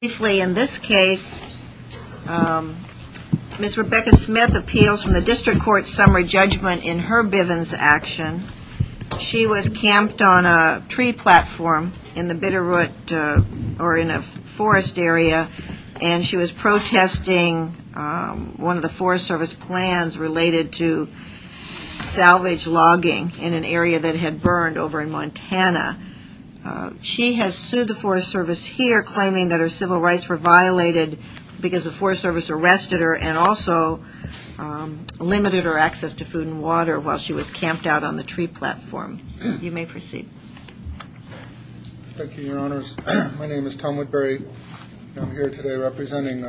Briefly, in this case, Ms. Rebecca Smith appeals from the District Court's summary judgment in her Bivens action. She was camped on a tree platform in the Bitterroot, or in a forest area, and she was protesting one of the Forest Service plans related to salvage logging in an area that had burned over in Montana. She has sued the Forest Service here, claiming that her civil rights were violated because the Forest Service arrested her and also limited her access to food and water while she was camped out on the tree platform. You may proceed. Thank you, Your Honors. My name is Tom Woodbury. I'm here today representing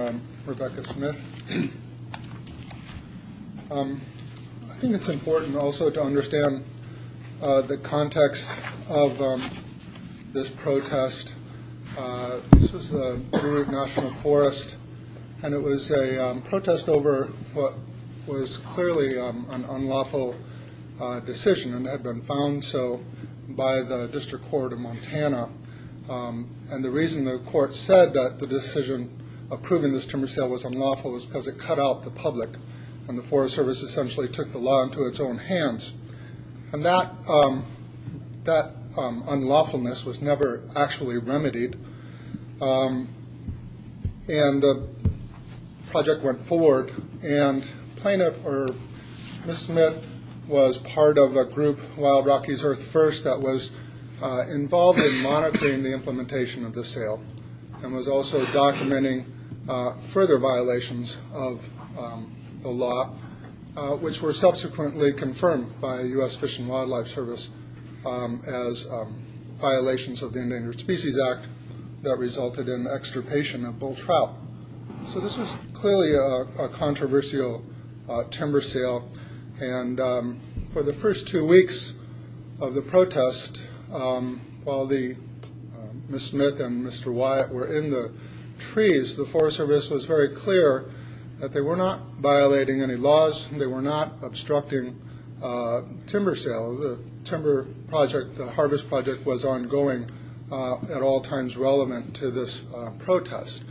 Rebecca Smith. I think it's important also to understand the context of this protest. This is the Bitterroot National Forest, and it was a protest over what was clearly an unlawful decision and had been found so by the District Court of Montana. And the reason the court said that the decision of approving this timber sale was unlawful was because it cut out the public and the Forest Service essentially took the law into its own hands. And that unlawfulness was never actually remedied. And the project went forward, and Ms. Smith was part of a group, Wild Rockies Earth First, that was involved in monitoring the implementation of the sale and was also documenting further violations of the law, which were subsequently confirmed by U.S. Fish and Wildlife Service as violations of the Endangered Species Act that resulted in extirpation of bull trout. So this was clearly a controversial timber sale, and for the first two weeks of the protest, while Ms. Smith and Mr. Wyatt were in the trees, the Forest Service was very clear that they were not violating any laws, they were not obstructing timber sale. The timber project, the harvest project, was ongoing at all times relevant to this protest.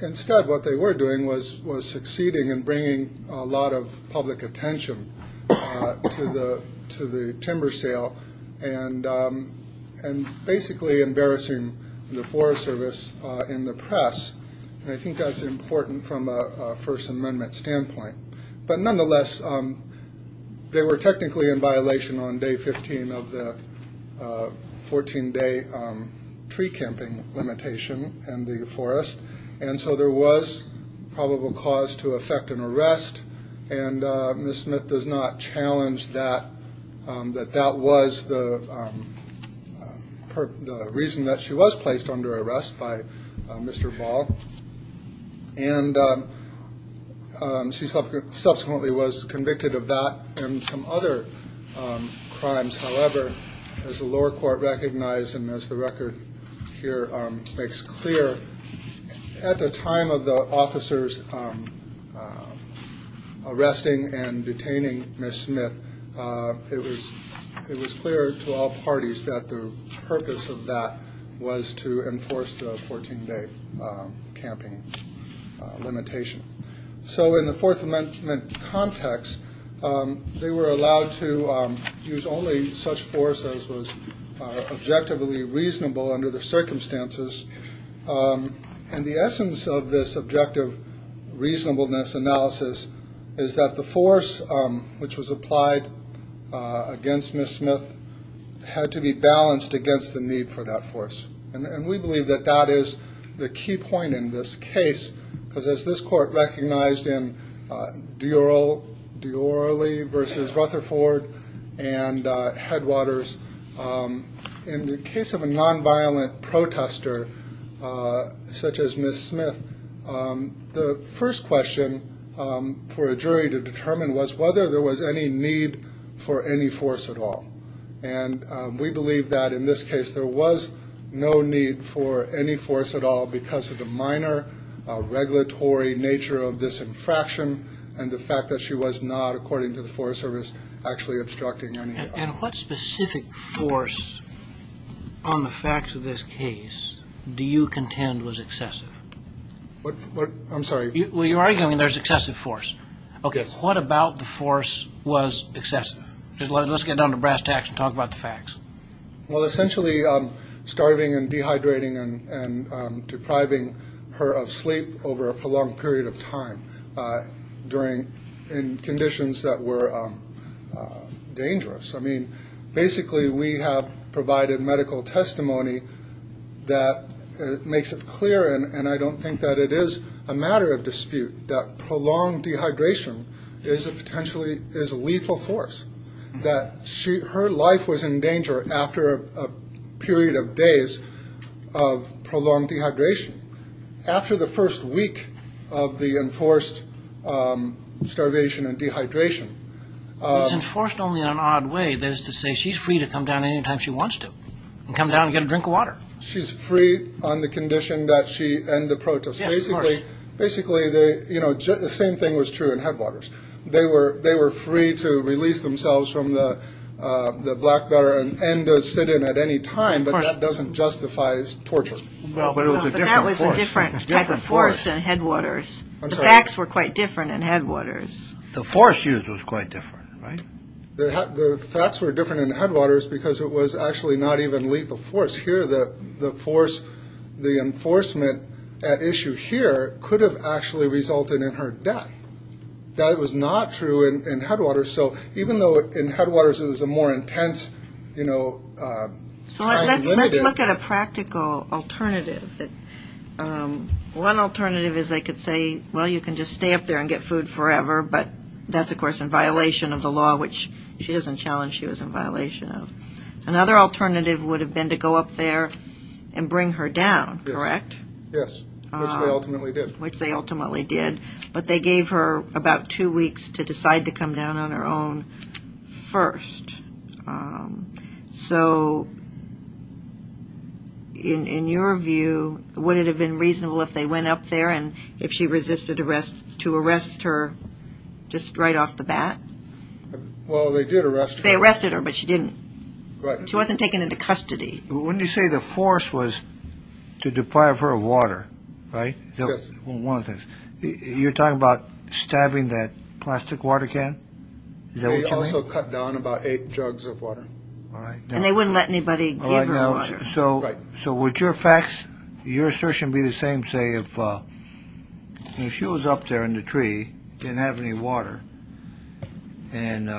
Instead, what they were doing was succeeding in bringing a lot of public attention to the timber sale and basically embarrassing the Forest Service in the press. And I think that's important from a First Amendment standpoint. But nonetheless, they were technically in violation on day 15 of the 14-day tree camping limitation in the forest. And so there was probable cause to effect an arrest, and Ms. Smith does not challenge that that was the reason that she was placed under arrest by Mr. Ball. And she subsequently was convicted of that and some other crimes, however, as the lower court recognized and as the record here makes clear, at the time of the officers arresting and detaining Ms. Smith, it was clear to all parties that the purpose of that was to enforce the 14-day camping limitation. So in the Fourth Amendment context, they were allowed to use only such force as was objectively reasonable under the circumstances. And the essence of this objective reasonableness analysis is that the force which was applied against Ms. Smith had to be balanced against the need for that force. And we believe that that is the key point in this case, because as this court recognized in Deorley v. Rutherford and Headwaters, in the case of a nonviolent protester such as Ms. Smith, the first question for a jury to determine was whether there was any need for any force at all. And we believe that in this case there was no need for any force at all because of the minor regulatory nature of this infraction and the fact that she was not, according to the Forest Service, actually obstructing any... And what specific force on the facts of this case do you contend was excessive? What, what, I'm sorry? Well, you're arguing there's excessive force. Okay. What about the force was excessive? Let's get down to brass tacks and talk about the depriving her of sleep over a prolonged period of time during, in conditions that were dangerous. I mean, basically we have provided medical testimony that makes it clear, and I don't think that it is a matter of dispute, that prolonged dehydration is a potentially, is a lethal force. That she, her life was in danger after a period of days of prolonged dehydration. After the first week of the enforced starvation and dehydration. It's enforced only in an odd way. That is to say, she's free to come down anytime she wants to and come down and get a drink of water. She's free on the condition that she end the protest. Basically, basically they, you know, the same thing was true in Headwaters. They were, they were free to release themselves from the Blackwater and sit in at any time, but that doesn't justify torture. But that was a different type of force in Headwaters. The facts were quite different in Headwaters. The force used was quite different, right? The facts were different in Headwaters because it was actually not even lethal force. Here, the force, the enforcement at issue here could have actually resulted in her death. That was not true in Headwaters. So even though in Headwaters, it was a more intense, you know... So let's look at a practical alternative. One alternative is they could say, well, you can just stay up there and get food forever, but that's of course in violation of the law, which she doesn't challenge. She was in violation of. Another alternative would have been to go up there and bring her down, correct? Yes, which they ultimately did. Which they ultimately did, but they gave her about two weeks to decide to come down on her own first. So in your view, would it have been reasonable if they went up there and if she resisted arrest, to arrest her just right off the bat? Well, they did arrest her. They arrested her, but she wasn't taken into custody. When you say the force was to deprive her of water, right? One of the things. You're talking about stabbing that plastic water can? They also cut down about eight jugs of water. And they wouldn't let anybody give her water. So would your facts, your assertion be the same, say if she was up there in the tree, didn't have any water, and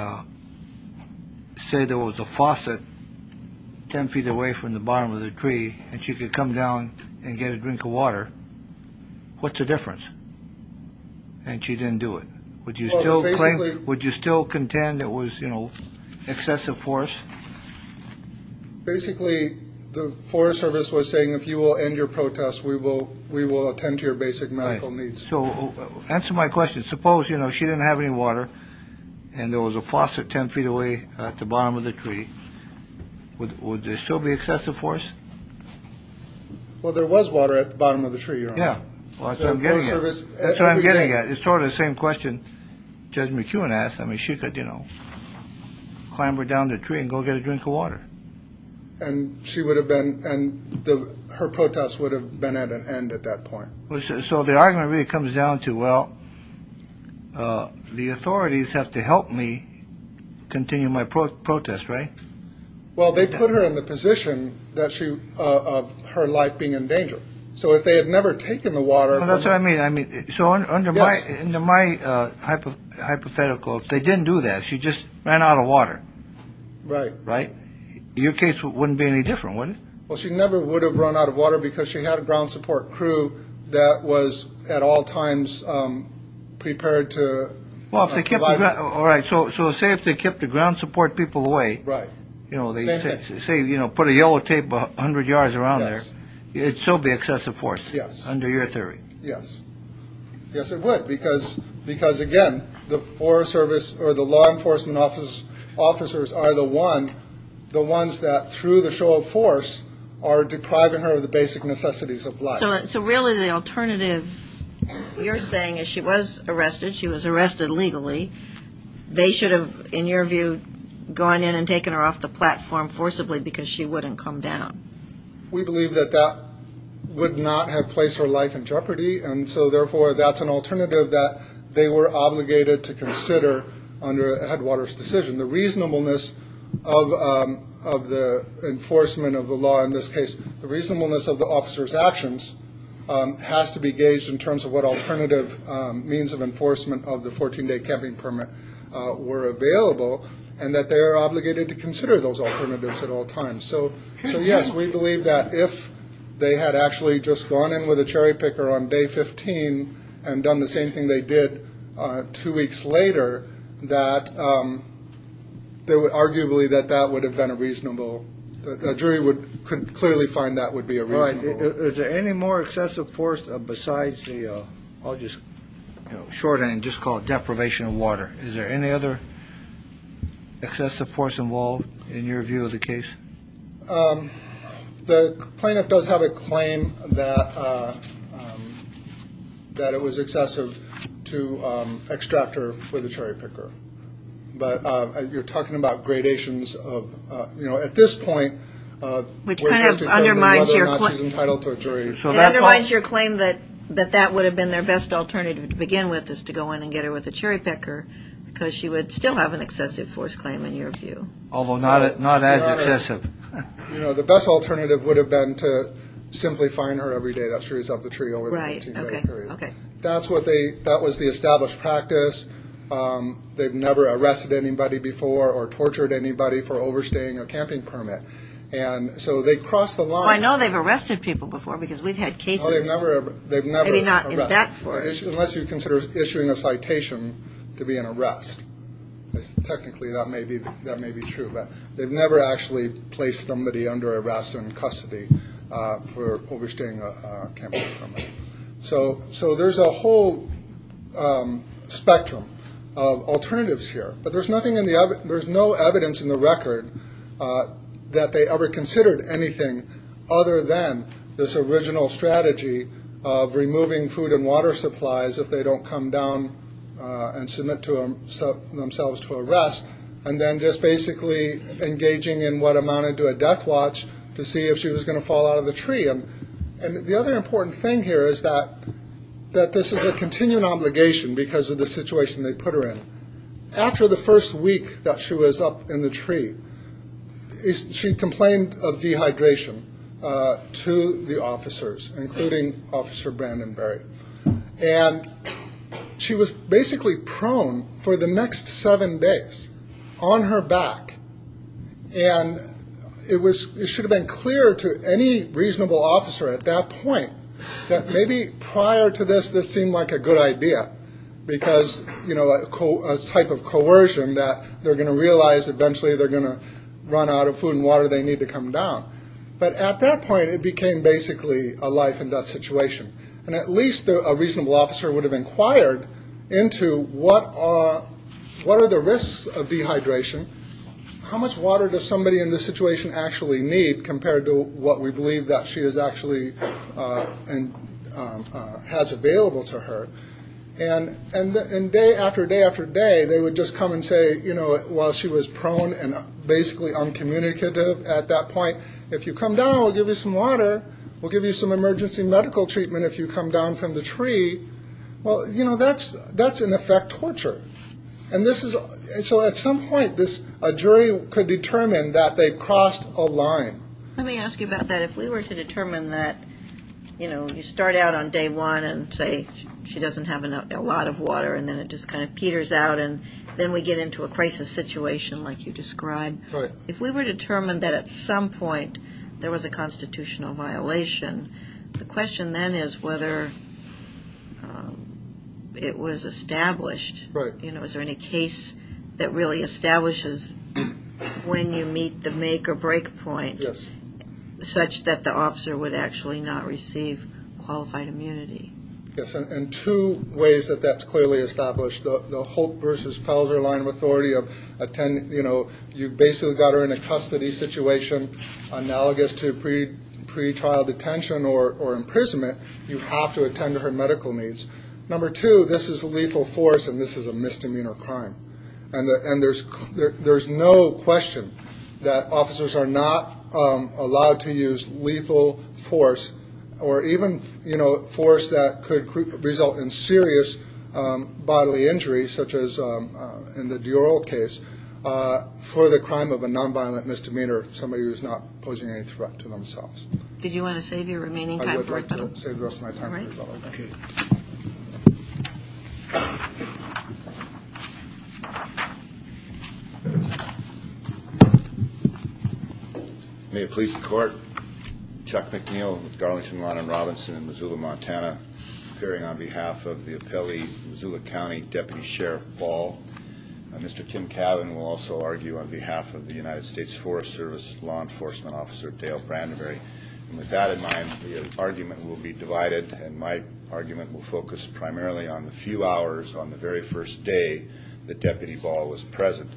say there was a faucet 10 feet away from the bottom of the tree and she could come down and get a drink of water. What's the difference? And she didn't do it. Would you still claim, would you still contend it was, you know, excessive force? Basically, the Forest Service was saying, if you will end your protest, we will attend to your basic medical needs. So answer my question. Suppose, you know, she didn't have any water and there was a faucet 10 feet away at the bottom of the tree. Would there still be excessive force? Well, there was water at the bottom of the tree. Yeah. That's what I'm getting at. It's sort of the same question Judge McEwen asked. I mean, she could, you know, clamber down the tree and go get a drink of water. And she would have been, and her protest would have been at an end at that point. So the argument really comes down to, well, the authorities have to help me continue my protest, right? Well, they put her in the position that she, of her life being in danger. So if they had never taken the water. That's what I mean. I mean, so under my hypothetical, if they didn't do that, she just ran out of water. Right. Right. Your case wouldn't be any different, would it? Well, she never would have run out of water because she had a ground support crew that was at all times prepared to. Well, if they kept. All right. So say if they kept the ground support people away. Right. You know, they say, you know, put a yellow tape 100 yards around there. It'd still be excessive force. Yes. Under your theory. Yes. Yes, it would. Because again, the Forest Service or the law enforcement office officers are the one the ones that through the show of force are depriving her of the basic necessities of life. So really, the alternative you're saying is she was arrested. She was arrested legally. They should have, in your view, gone in and taken her off the platform forcibly because she wouldn't come down. We believe that that would not have placed her life in jeopardy. And so therefore, that's an to consider under headwaters decision, the reasonableness of of the enforcement of the law. In this case, the reasonableness of the officer's actions has to be gauged in terms of what alternative means of enforcement of the 14 day camping permit were available and that they are obligated to consider those alternatives at all times. So yes, we believe that if they had actually just gone in with a cherry picker on day 15 and done the same thing they did two weeks later, that they would arguably that that would have been a reasonable jury would could clearly find that would be a right. Is there any more excessive force besides the I'll just shorten and just call it deprivation of water. Is there any other excessive force involved in your view of the case? The plaintiff does have a claim that that it was excessive to extract her with a cherry picker. But you're talking about gradations of, you know, at this point, which kind of undermines your title to a jury. So that undermines your claim that that that would have been their best alternative to begin with is to go in and get her with a cherry picker because she would still have an excessive, you know, the best alternative would have been to simply find her every day that she was up the tree over the period. Okay, that's what they that was the established practice. They've never arrested anybody before or tortured anybody for overstaying a camping permit. And so they crossed the line. I know they've arrested people before because we've had cases. Unless you consider issuing a citation to be an arrest. Technically, that may be that may be true, they've never actually placed somebody under arrest and custody for overstaying a camping permit. So there's a whole spectrum of alternatives here, but there's nothing in the there's no evidence in the record that they ever considered anything other than this original strategy of removing food and water supplies if they don't come down and submit to themselves to arrest. And then just basically engaging in what amounted to a death watch to see if she was going to fall out of the tree. And the other important thing here is that that this is a continuing obligation because of the situation they put her in. After the first week that she was up in the tree is she complained of dehydration to the officers, including Officer Brandon Berry. And she was basically prone for the back. And it was it should have been clear to any reasonable officer at that point that maybe prior to this, this seemed like a good idea because, you know, a type of coercion that they're going to realize eventually they're going to run out of food and water, they need to come down. But at that point, it became basically a life and death situation. And at least a reasonable officer would have inquired into what are the risks of dehydration? How much water does somebody in this situation actually need compared to what we believe that she is actually and has available to her? And day after day after day, they would just come and say, you know, while she was prone and basically uncommunicative at that point, if you come down, we'll give you some water. We'll give you some emergency medical treatment if you come down from the tree. Well, you know, that's that's in effect torture. And this is so at some point this jury could determine that they crossed a line. Let me ask you about that. If we were to determine that, you know, you start out on day one and say she doesn't have a lot of water and then it just kind of peters out and then we get into a crisis situation like you described. If we were determined that at some point there was a constitutional violation, the question then is whether it was established. Right. You know, is there any case that really establishes when you meet the make or break point? Yes. Such that the officer would actually not receive qualified immunity? Yes. And two ways that that's clearly established. The Holt versus Pelzer line of authority of, you know, you've basically got her in a custody situation analogous to pretrial detention or imprisonment. You have to attend to her medical needs. Number two, this is a lethal force and this is a misdemeanor crime. And there's no question that officers are not allowed to use lethal force or even, you know, force that could result in serious bodily injury, such as in the Dior case, for the crime of a non-violent misdemeanor, somebody who's not posing any threat to themselves. Did you want to save your remaining time? I would like to save the rest of my time. All right. May it please the court. Chuck McNeil with Garlington Lawn and Robinson in Missoula, Montana, appearing on behalf of the appellee, Missoula County Deputy Sheriff Ball. Mr. Tim Cavan will also argue on behalf of the United States Forest Service Law Enforcement Officer Dale Brandovery. And with that in mind, the argument will be divided and my argument will focus primarily on the few hours on the very first day that Deputy Ball was present.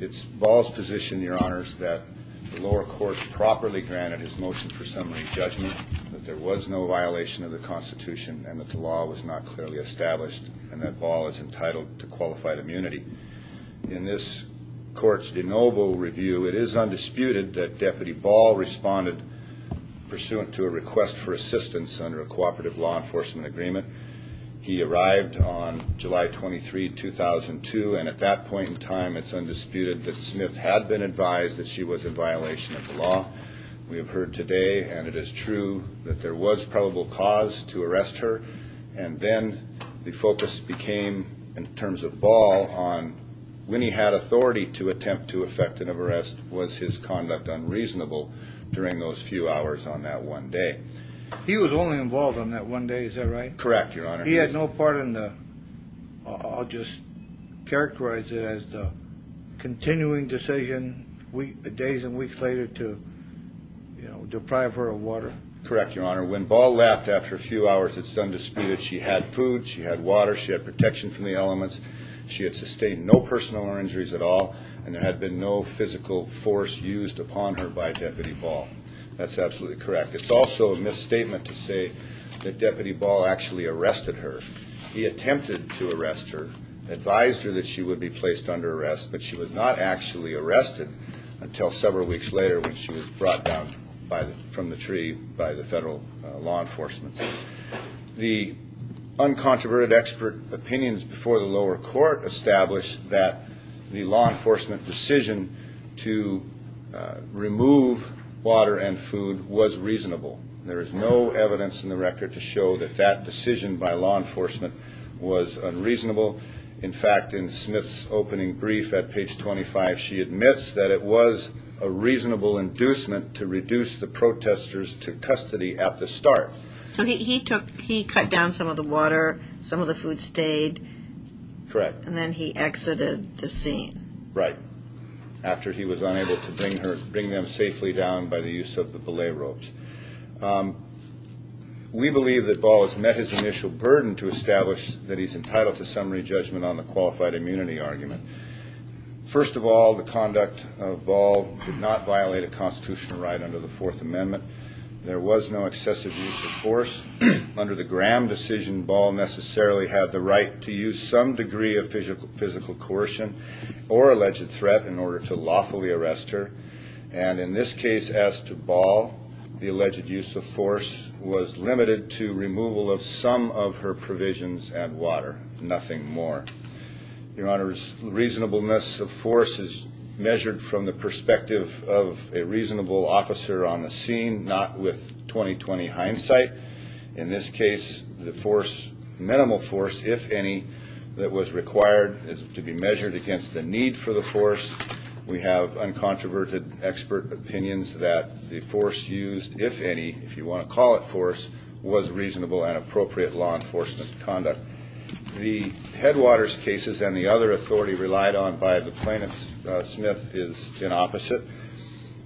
It's Ball's position, Your Honors, that the lower courts properly granted his motion for summary judgment, that there was no violation of the Constitution and that the law was not clearly established and that Ball is entitled to qualified immunity. In this court's de novo review, it is undisputed that Deputy Ball responded pursuant to a request for assistance under a cooperative law enforcement agreement. He arrived on July 23, 2002, and at that point in time, it's undisputed that Smith had been advised that she was in violation of the law. We have heard today, and it is true, that there was probable cause to arrest her. And then the focus became, in terms of Ball, on when he had authority to attempt to effect an arrest, was his conduct unreasonable during those few hours on that one day. He was only involved on that one day, is that right? Correct, Your Honor. He had no part in the, I'll just characterize it as the continuing decision days and weeks later to deprive her of water. Correct, Your Honor. When Ball left after a few hours, it's undisputed she had food, she had water, she had protection from the elements, she had sustained no personal injuries at all, and there had been no physical force used upon her by Deputy Ball. That's absolutely correct. It's also a misstatement to say that Deputy Ball actually arrested her. He attempted to arrest her, advised her that she would be placed under arrest, but she was not actually arrested until several weeks later when she was brought down from the tree by the federal law enforcement. The uncontroverted expert opinions before the lower court established that the law enforcement decision to remove water and food was reasonable. There is no evidence in the record to show that that decision by law enforcement was unreasonable. In fact, in Smith's opening brief at page 25, she admits that it was a reasonable inducement to reduce the protesters to custody at the start. So he cut down some of the water, some of the food stayed. Correct. And then he exited the scene. Right. After he was unable to bring them safely down by the use of the belay ropes. We believe that Ball has met his initial burden to establish that he's entitled to summary judgment on the qualified immunity argument. First of all, the conduct of Ball did not violate a constitutional right under the Fourth Amendment. There was no excessive use of force under the Graham decision. Ball necessarily had the right to use some degree of physical physical coercion or alleged threat in order to lawfully arrest her. And in this case, as to Ball, the alleged use of force was limited to removal of some of her provisions and water, nothing more. Your Honor's reasonableness of force is measured from the perspective of a reasonable officer on the scene, not with 20, 20 hindsight. In this case, the force, minimal force, if any, that was required is to be measured against the need for the force. We have uncontroverted expert opinions that the force used, if any, if you want to call it force, was reasonable and appropriate law conduct. The Headwaters cases and the other authority relied on by the plaintiff, Smith, is the opposite.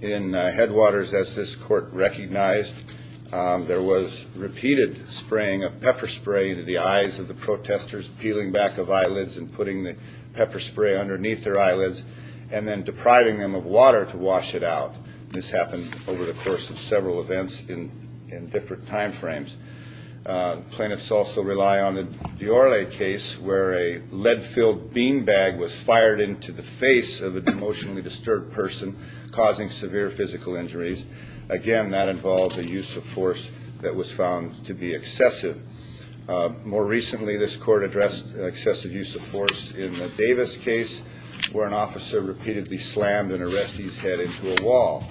In Headwaters, as this court recognized, there was repeated spraying of pepper spray into the eyes of the protesters, peeling back of eyelids and putting the pepper spray underneath their eyelids and then depriving them of water to wash it out. This happened over the course of several events in different time frames. Plaintiffs also rely on the Diorle case where a lead-filled beanbag was fired into the face of a emotionally disturbed person causing severe physical injuries. Again, that involved a use of force that was found to be excessive. More recently, this court addressed excessive use of force in the Davis case where an officer repeatedly slammed an arrestee's head into a wall.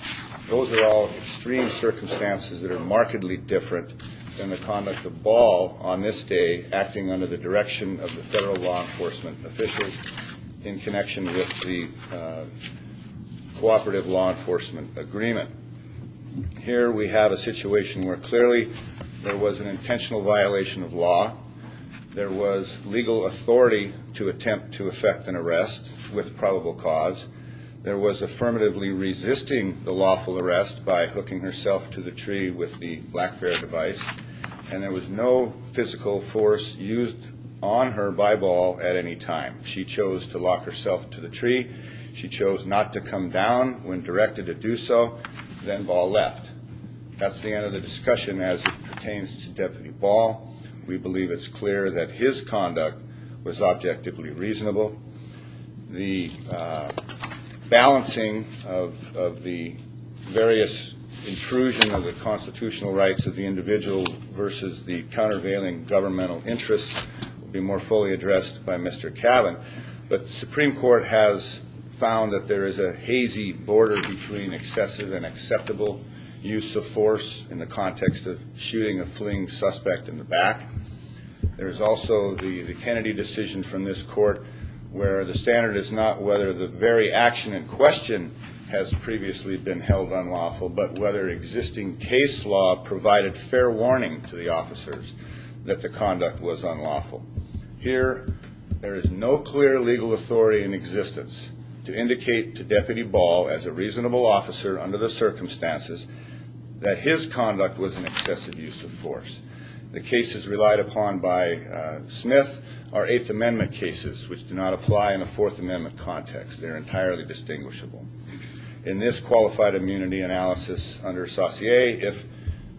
Those are all extreme circumstances that are markedly different than the conduct of Ball on this day acting under the direction of the federal law enforcement officials in connection with the Cooperative Law Enforcement Agreement. Here we have a situation where clearly there was an intentional violation of law. There was legal authority to attempt to effect an arrest with probable cause. There was affirmatively resisting the lawful arrest by hooking herself to the tree with the black bear device and there was no physical force used on her by Ball at any time. She chose to lock herself to the tree. She chose not to come down when directed to do so. Then Ball left. That's the end of the clear that his conduct was objectively reasonable. The balancing of the various intrusion of the constitutional rights of the individual versus the countervailing governmental interest will be more fully addressed by Mr. Cavan, but the Supreme Court has found that there is a hazy border between excessive and acceptable use of force in the context of shooting a fleeing suspect in the back. There is also the Kennedy decision from this court where the standard is not whether the very action in question has previously been held unlawful, but whether existing case law provided fair warning to the officers that the conduct was unlawful. Here there is no clear legal authority in existence to indicate to Deputy Ball as a reasonable officer under the circumstances that his conduct was an excessive use of force. The cases relied upon by Smith are Eighth Amendment cases which do not apply in a Fourth Amendment context. They're entirely distinguishable. In this qualified immunity analysis under Saussure, if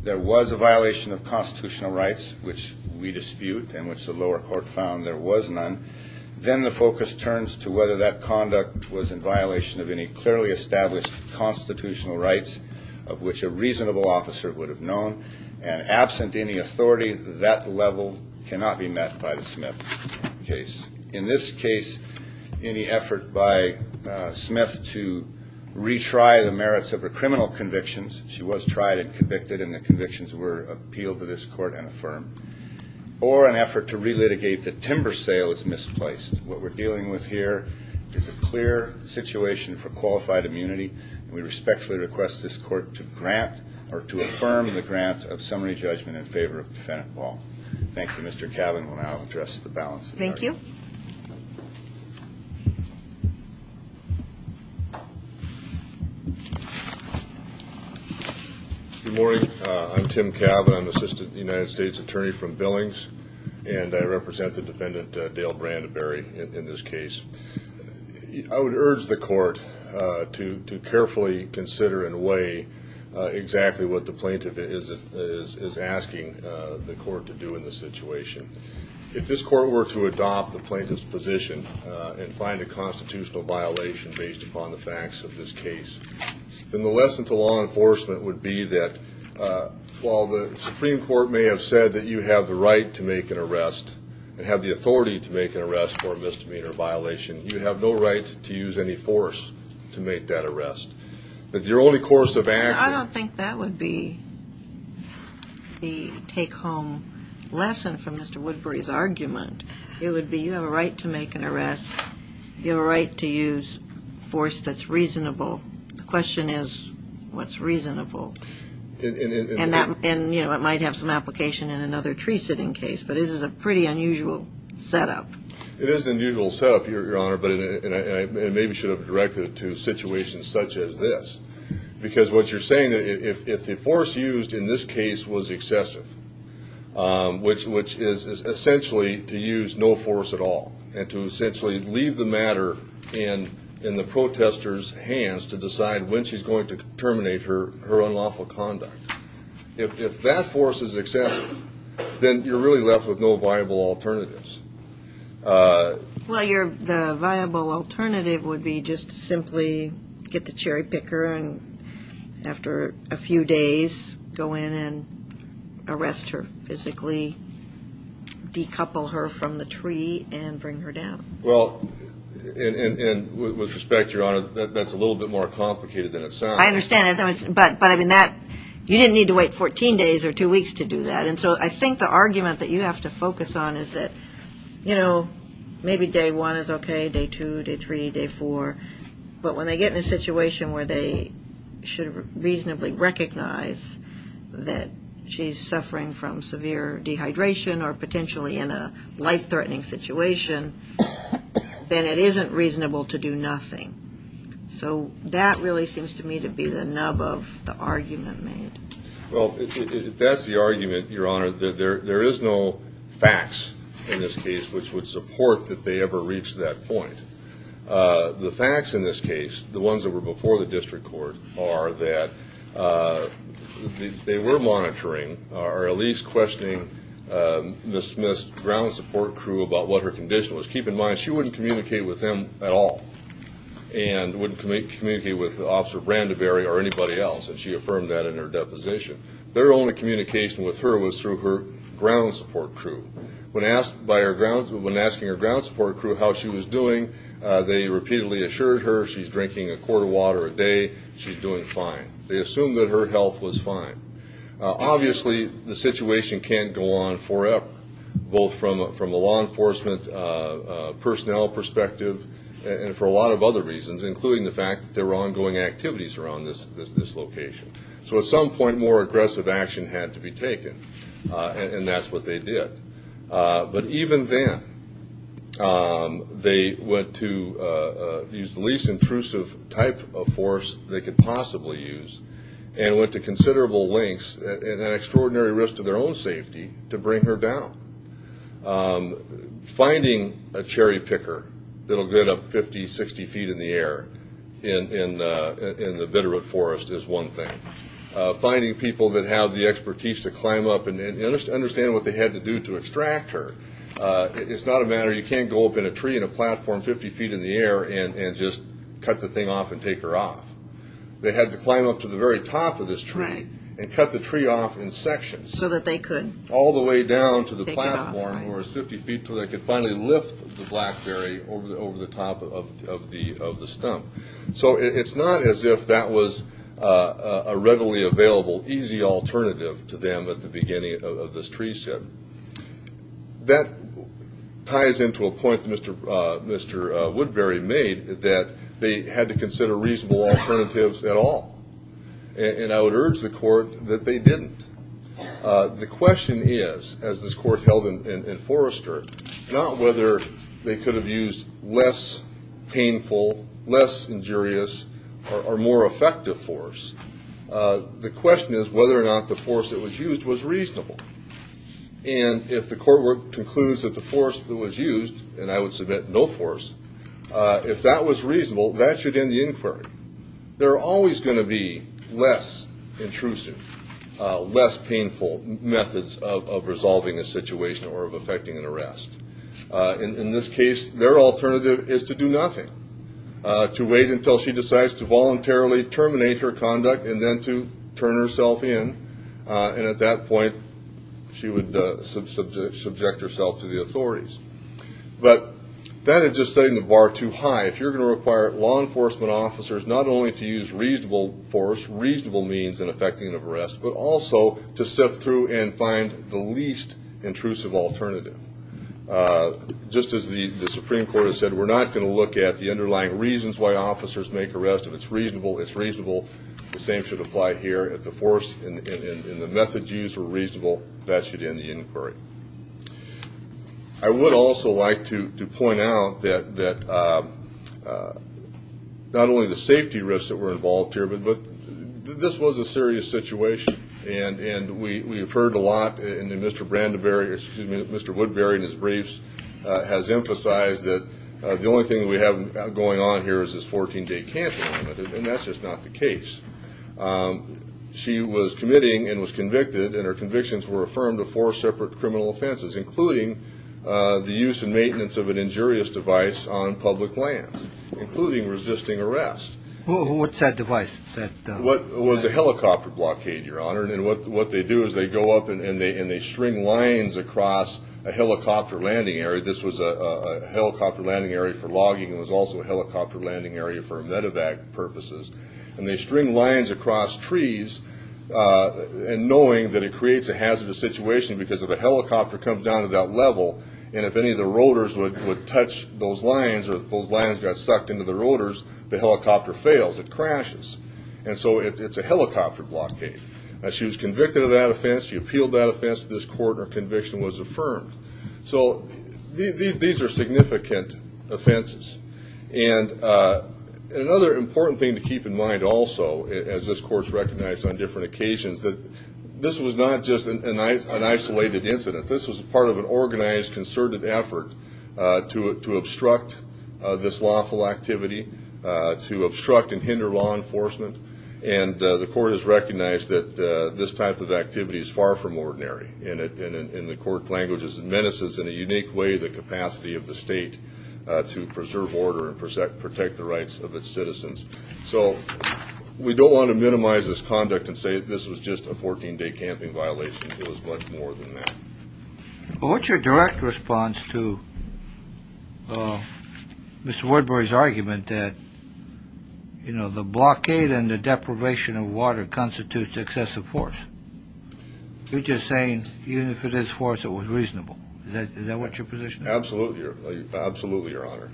there was a violation of constitutional rights which we dispute and which the lower court found there was none, then the focus turns to whether that conduct was in violation of any clearly established constitutional rights of which a reasonable officer would have known, and absent any authority that level cannot be met by the Smith case. In this case, any effort by Smith to retry the merits of her criminal convictions, she was tried and convicted and the convictions were appealed to this court and affirmed, or an effort to is a clear situation for qualified immunity and we respectfully request this court to grant or to affirm the grant of summary judgment in favor of Defendant Ball. Thank you, Mr. Cavan. We'll now address the balance. Thank you. Good morning, I'm Tim Cavan. I'm Assistant United States Attorney from Billings and I represent the Defendant Dale Brandenberry in this case. I would urge the court to carefully consider and weigh exactly what the plaintiff is asking the court to do in this situation. If this court were to adopt the plaintiff's position and find a constitutional violation based upon the facts of this case, then the lesson to law enforcement would be that while the Supreme Court may have said that you have the right to make an arrest and have the authority to make an arrest for a misdemeanor violation, you have no right to use any force to make that arrest. But your only course of action... I don't think that would be the take-home lesson from Mr. Woodbury's argument. It would be you have a right to make an arrest, you have a right to use force that's reasonable. The question is what's reasonable? And it might have some application in another tree-sitting case, but this is a pretty unusual setup. It is an unusual setup, Your Honor, but it maybe should have been directed to situations such as this. Because what you're saying, if the force used in this case was excessive, which is essentially to use no force at all and to essentially leave the matter in the protester's hands to decide when she's going to terminate her unlawful conduct, if that force is excessive, then you're really left with no viable alternatives. Well, the viable alternative would be just simply get the cherry picker and after a few days go in and arrest her physically, decouple her from the tree, and bring her down. Well, and with respect, Your Honor, that's a little bit more complicated than it sounds. I understand, but you didn't need to wait 14 days or two weeks to do that. And so I think the argument that you have to focus on is that maybe day one is okay, day two, day three, day four, but when they get in a situation where they should reasonably recognize that she's suffering from severe dehydration or potentially in a life-threatening situation, then it isn't reasonable to do nothing. So that really seems to me to be the nub of the argument made. Well, if that's the argument, Your Honor, there is no facts in this case which would support that they ever reached that point. The facts in this case, the ones that were before the district court, are that they were monitoring or at least questioning Ms. Smith's ground support crew about what her condition was. Keep in mind, she wouldn't communicate with them at all and wouldn't communicate with Officer Brandeberry or anybody else, and she affirmed that in her deposition. Their only communication with her was through her ground support crew. When asked by her ground, when asking her ground support crew how she was doing, they repeatedly assured her she's drinking a quart of water a day, she's doing fine. They assumed that her health was fine. Obviously, the situation can't go on forever, both from a law enforcement personnel perspective and for a lot of other reasons, including the fact that there were ongoing activities around this location. So at some point, more aggressive action had to be taken, and that's what they did. But even then, they went to use the least intrusive type of force they could possibly use and went to considerable lengths and an extraordinary risk to their own safety to bring her down. Finding a cherry picker that'll get up 50, 60 feet in the air in the Bitterroot Forest is one thing. Finding people that have the expertise to climb up and understand what they had to do to extract her. It's not a matter, you can't go up in a tree in a platform 50 feet in the air and just cut the thing off and take her off. They had to climb up to the very top of this tree and cut the tree off in sections. So that they could? All the way down to the platform or 50 feet so they could finally lift the blackberry over the top of the stump. So it's not as if that was a readily available, easy alternative to them at the beginning of this tree set. That ties into a point that Mr. Woodbury made, that they had to consider reasonable alternatives at all. And I would urge the court that they didn't. The question is, as this court held in Forrester, not whether they could have used less painful, less injurious, or more effective force. The question is whether or not the force that was used was reasonable. And if the court work concludes that the force that was used, and I would submit no force, if that was reasonable, that should end the inquiry. There are always going to be less intrusive, less painful methods of resolving a situation or of affecting an arrest. In this case, their alternative is to do nothing. To wait until she decides to voluntarily terminate her conduct and then to turn herself in. And at that point, she would subject herself to the authorities. But that is just setting the bar too high. If you're going to require law enforcement officers not only to use reasonable force, reasonable means in effecting an arrest, but also to sift through and find the least intrusive alternative. Just as the Supreme Court has said, we're not going to look at the underlying reasons why officers make arrests. If it's reasonable, the same should apply here. If the force and the methods used were reasonable, that should end the inquiry. I would also like to point out that not only the safety risks that were involved here, but this was a serious situation. And we've heard a lot, and Mr. Woodbury in his briefs has emphasized that the only thing we have going on here is this 14-day cancel, and that's just not the case. She was committing and was convicted, and her convictions were affirmed of four separate criminal offenses, including the use and maintenance of an injurious device on public lands, including resisting arrest. What's that device? It was a helicopter blockade, Your Honor. And what they do is they go up and they string lines across a helicopter landing area. This was a helicopter landing area for logging. It was also a helicopter landing area for medevac purposes. And they string lines across trees, knowing that it creates a hazardous situation because if a helicopter comes down to that level, and if any of the rotors would touch those lines, or if those lines got sucked into the rotors, the helicopter fails. It crashes. And so it's a helicopter blockade. She was convicted of that offense. She appealed that offense to this court, and her conviction was affirmed. So these are significant offenses. And another important thing to keep in mind also, as this Court's recognized on different occasions, that this was not just an isolated incident. This was part of an organized, concerted effort to obstruct this lawful activity, to obstruct and hinder law enforcement. And the Court has recognized that this type of activity is far from ordinary, and in the Court's language, it menaces in a unique way the capacity of the state to preserve order and protect the rights of its citizens. So we don't want to minimize this conduct and say this was just a 14-day camping violation. It was much more than that. Well, what's your direct response to Mr. Woodbury's argument that the blockade and even if it is forced, it was reasonable? Is that what your position is? Absolutely, Your Honor.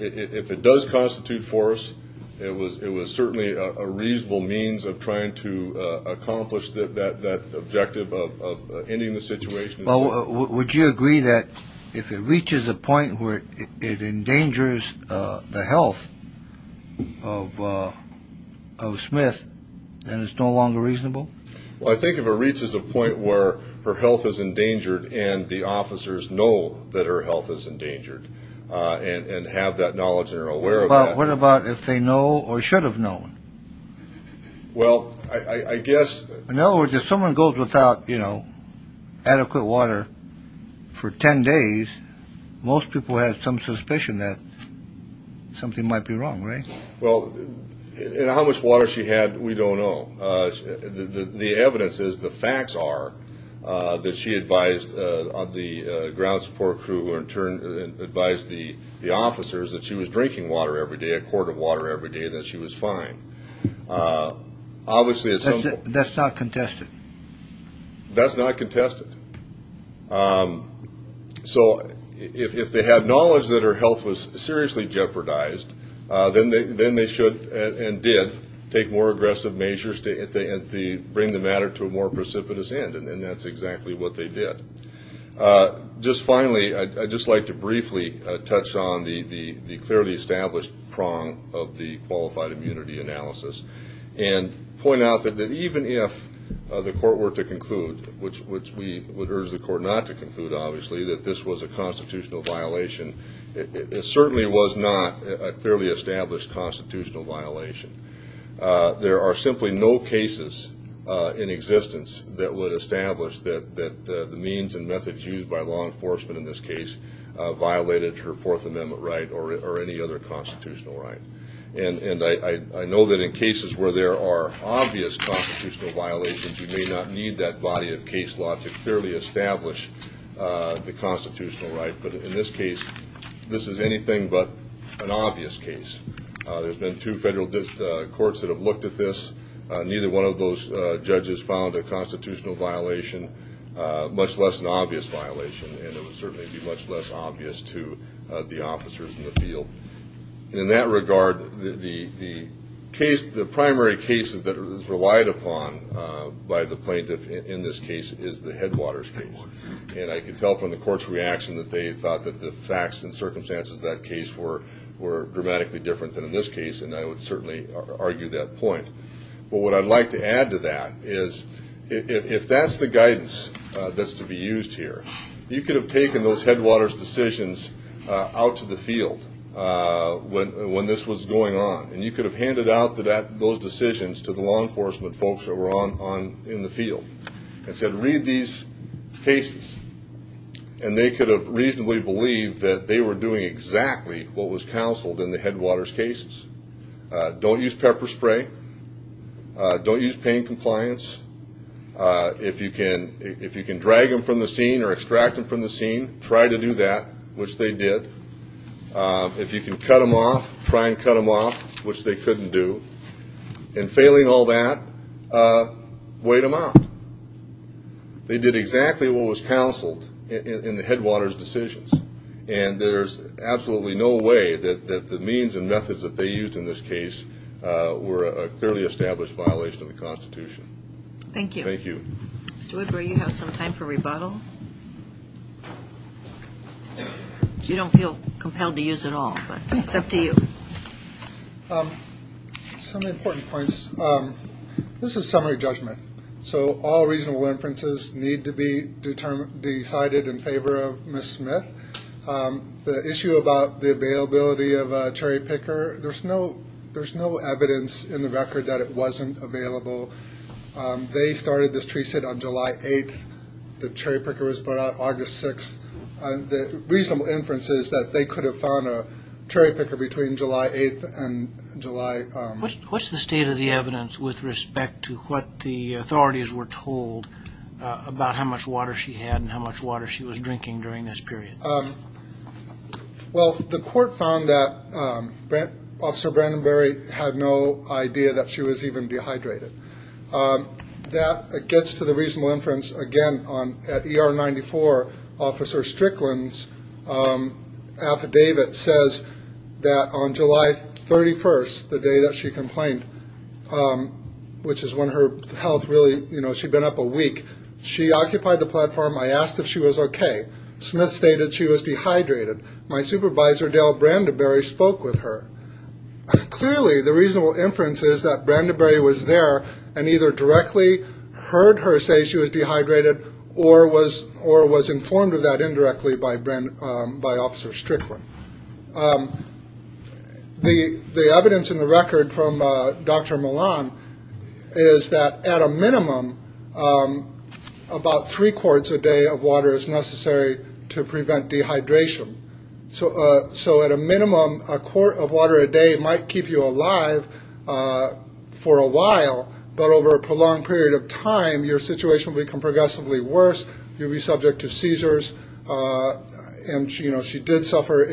If it does constitute force, it was certainly a reasonable means of trying to accomplish that objective of ending the situation. Well, would you agree that if it reaches a point where it endangers the health of Smith, then it's no longer reasonable? Well, I think if it reaches a point where her health is endangered and the officers know that her health is endangered and have that knowledge and are aware of that... What about if they know or should have known? Well, I guess... In other words, if someone goes without adequate water for 10 days, most people have some suspicion that something might be wrong, right? Well, in how much water she had, we don't know. The evidence is, the facts are, that she advised the ground support crew or in turn advised the officers that she was drinking water every day, a quart of water every day, that she was fine. Obviously... That's not contested? That's not contested. So if they had knowledge that her health was seriously jeopardized, then they should and did take more aggressive measures to bring the matter to a more precipitous end. And that's exactly what they did. Just finally, I'd just like to briefly touch on the clearly established prong of the qualified immunity analysis and point out that even if the court were to conclude, which we would urge the court not to conclude, obviously, that this was a constitutional violation, it certainly was not a clearly established constitutional violation. There are simply no cases in existence that would establish that the means and methods used by law enforcement in this case violated her Fourth Amendment right or any other constitutional right. And I know that in cases where there are obvious constitutional violations, you may not need that body of case law to clearly establish the constitutional right. But in this case, this is anything but an obvious case. There's been two federal courts that have looked at this. Neither one of those judges found a constitutional violation, much less an obvious violation, and it would certainly be much less obvious to the officers in the field. In that by the plaintiff in this case is the Headwaters case. And I can tell from the court's reaction that they thought that the facts and circumstances of that case were dramatically different than in this case, and I would certainly argue that point. But what I'd like to add to that is, if that's the guidance that's to be used here, you could have taken those Headwaters decisions out to the field when this was going on, and you could have handed out those decisions to law enforcement folks that were on in the field and said, read these cases. And they could have reasonably believed that they were doing exactly what was counseled in the Headwaters cases. Don't use pepper spray. Don't use pain compliance. If you can drag them from the scene or extract them from the scene, try to do that, which they did. If you can cut them off, try and cut them off, which they couldn't do, and failing all that, wait them out. They did exactly what was counseled in the Headwaters decisions, and there's absolutely no way that the means and methods that they used in this case were a clearly established violation of the Constitution. Thank you. Thank you. Mr. Wood, will you have some time for rebuttal? You don't feel compelled to use it all, but it's up to you. Some important points. This is summary judgment, so all reasonable inferences need to be decided in favor of Ms. Smith. The issue about the availability of a cherry picker, there's no evidence in the record that it wasn't available. They started this tree sit on July 8th. The cherry picker was brought out August 6th. The reasonable inference is that they could have found a cherry picker between July 8th and July... What's the state of the evidence with respect to what the authorities were told about how much water she had and how much water she was drinking during this period? Well, the court found that Officer Brandenberry had no idea that she was dehydrated. That gets to the reasonable inference, again, at ER 94, Officer Strickland's affidavit says that on July 31st, the day that she complained, which is when her health really... She'd been up a week. She occupied the platform. I asked if she was okay. Smith stated she was dehydrated. My supervisor, Dale Brandenberry, spoke with her. Clearly, the reasonable inference is that Brandenberry was there and either directly heard her say she was dehydrated or was informed of that indirectly by Officer Strickland. The evidence in the record from Dr. Milan is that at a minimum, about three quarts a day of water is necessary to prevent dehydration. So at a minimum, a quart of water a day might keep you alive for a while, but over a prolonged period of time, your situation will become progressively worse. You'll be subject to seizures. She did suffer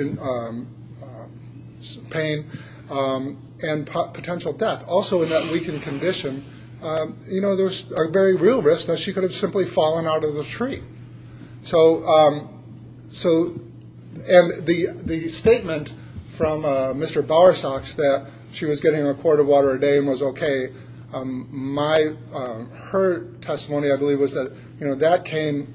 pain and potential death. Also, in that weakened condition, there's a very real risk that she could have simply fallen out of the tree. So the statement from Mr. Bowersox that she was getting a quart of water a day and was okay, her testimony, I believe, was that that came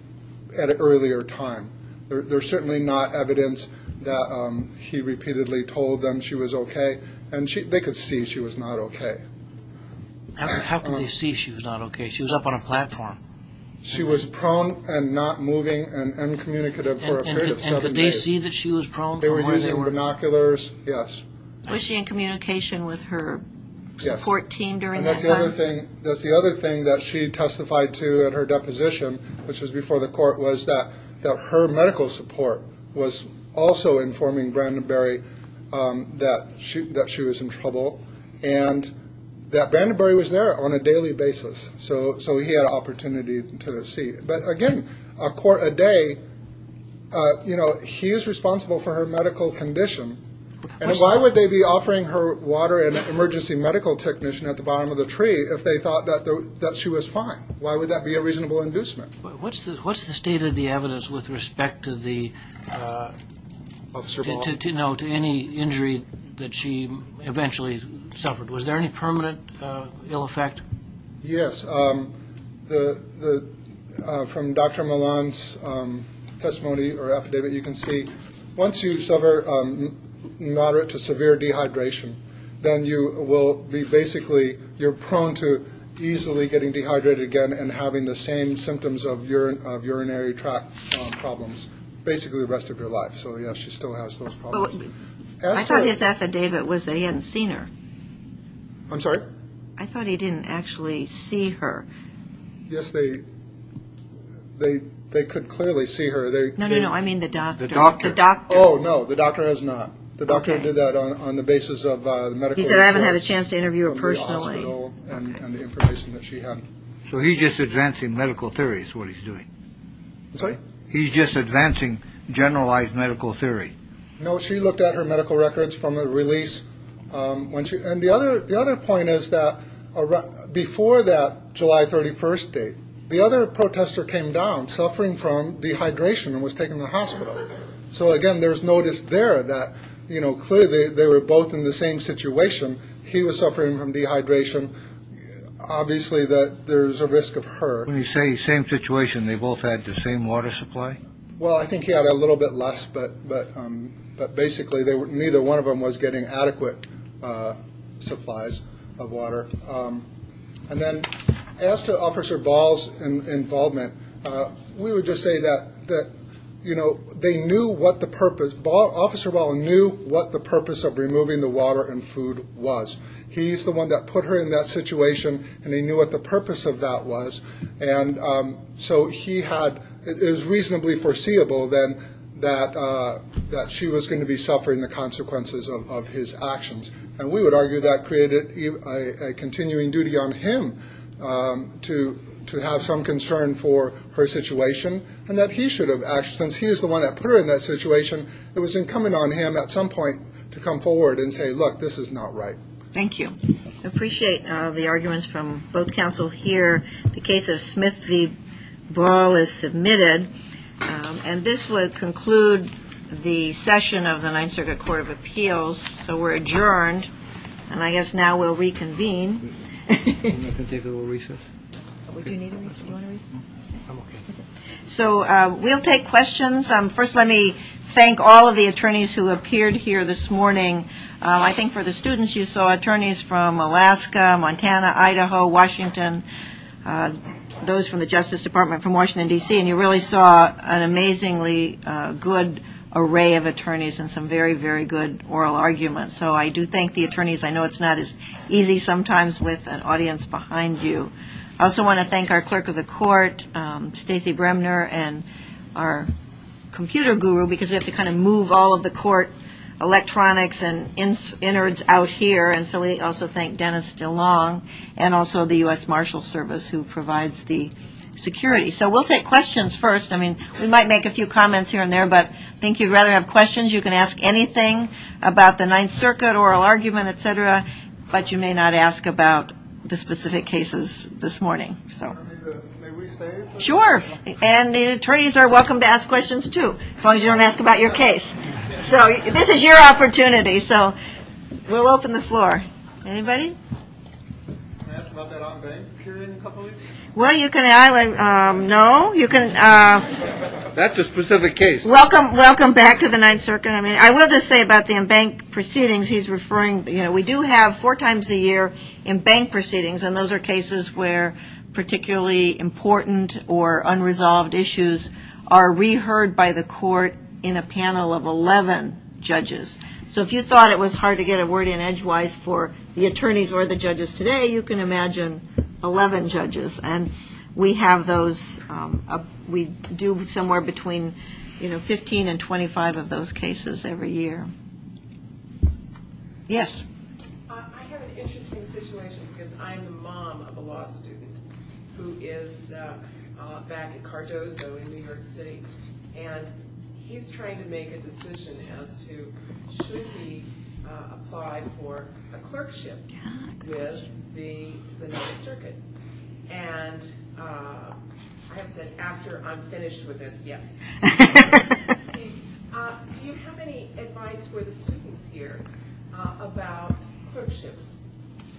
at an earlier time. There's certainly not evidence that he repeatedly told them she was okay. They could see she was not okay. How could they see she was not okay? She was up on a platform. She was prone and not moving and uncommunicative for a period of seven days. Did they see that she was prone? They were using binoculars. Yes. Was she in communication with her support team during that time? That's the other thing that she testified to at her deposition, which was before the court, was that her medical support was also informing Brandenberry that she was in trouble and that Brandenberry was there on a daily basis. So he had an opportunity to see. But again, a quart a day, he is responsible for her medical condition. And why would they be offering her water and emergency medical technician at the bottom of the tree if they thought that she was fine? Why would that be a reasonable inducement? What's the state of the evidence with respect to any injury that she eventually suffered? Was there any permanent ill effect? Yes. From Dr. Milan's testimony or affidavit, you can see once you suffer moderate to severe dehydration, then you will be basically you're prone to easily getting dehydrated again and having the same symptoms of urinary tract problems basically the rest of your life. So, yes, she still has those problems. I thought his affidavit was they hadn't seen her. I'm sorry. I thought he didn't actually see her. Yes, they they they could clearly see her. No, no, no. I mean, the doctor, the doctor. Oh, no, the doctor has not. The doctor did that on the basis of the medical. He said I haven't had a chance to interview her personally. And the information that she had. So he's just advancing medical theories, what he's doing. So he's just advancing generalized medical theory. No, she looked at her medical records from a release when she and the other the other point is that before that July 31st date, the other protester came down suffering from dehydration and was taken to the hospital. So, again, there's notice there that, you know, clearly they were both in the same situation. He was suffering from dehydration. Obviously, that there's a risk of her. When you say same situation, they both had the same water supply. Well, I think he had a little bit less, but but but basically they were neither. One of them was getting adequate supplies of water. And then as to Officer Ball's involvement, we would just say that that, you know, they knew what the purpose officer knew what the purpose of removing the water and food was. He's the one that put her in that situation and he knew what the purpose of that was. And so he had it was reasonably foreseeable then that that she was going to be suffering the consequences of his actions. And we would argue that created a continuing duty on him to to have some concern for her situation and that he should have. Since he is the one that put her in that situation, it was incumbent on him at some point to come forward and say, look, this is not right. Thank you. Appreciate the arguments from both counsel here. The case of Smith v. Ball is submitted. And this would conclude the session of the Ninth Circuit Court of Appeals. So we're adjourned. And I guess now we'll reconvene. So we'll take questions. First, let me thank all of the attorneys who appeared here this morning. I think for the students, you saw attorneys from Alaska, Montana, Idaho, Washington, those from the Justice Department, from Washington, D.C. And you really saw an amazingly good array of attorneys and some very, very good oral arguments. So I do thank the attorneys. I know it's not as easy sometimes with an audience behind you. I also want to thank our clerk of the court, Stacy Bremner, and our computer guru, because we have to kind of move all of the court electronics and innards out here. And so we also thank Dennis DeLong and also the U.S. Marshals Service, who provides the security. So we'll take questions first. I mean, we might make a few comments here and there, but I think you'd rather have questions. You can ask anything about the Ninth Circuit, oral argument, et cetera. But you may not ask about the specific cases this morning. May we stay? Sure. And the attorneys are welcome to ask questions, too, as long as you don't ask about your case. So this is your opportunity. So we'll open the floor. Anybody? Can I ask about that on-bank hearing in a couple of weeks? Well, you can. No, you can't. That's a specific case. Welcome. Welcome back to the Ninth Circuit. I mean, I will just say about the in-bank proceedings he's referring. We do have four times a year in-bank proceedings, and those are cases where particularly important or unresolved issues are reheard by the court in a panel of 11 judges. So if you thought it was hard to get a word in edgewise for the attorneys or the judges today, you can imagine 11 judges. And we have those. We do somewhere between 15 and 25 of those cases every year. Yes? I have an interesting situation because I'm the mom of a law student who is back at Cardozo in New York City. And he's trying to make a decision as to should he apply for a clerkship with the Ninth Circuit. And I have said after I'm finished with this, yes. Do you have any advice for the students here about clerkships?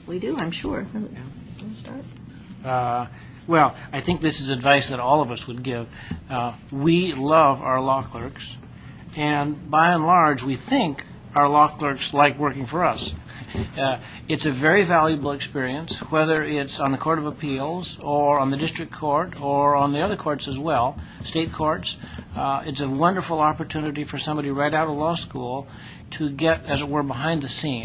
We do, I'm sure. Well, I think this is advice that all of us would give. We love our law clerks. And by and large, we think our law clerks like working for us. It's a very valuable experience, whether it's on the court or in the courtroom. It's a wonderful opportunity for somebody right out of law school to get, as it were, behind the scenes.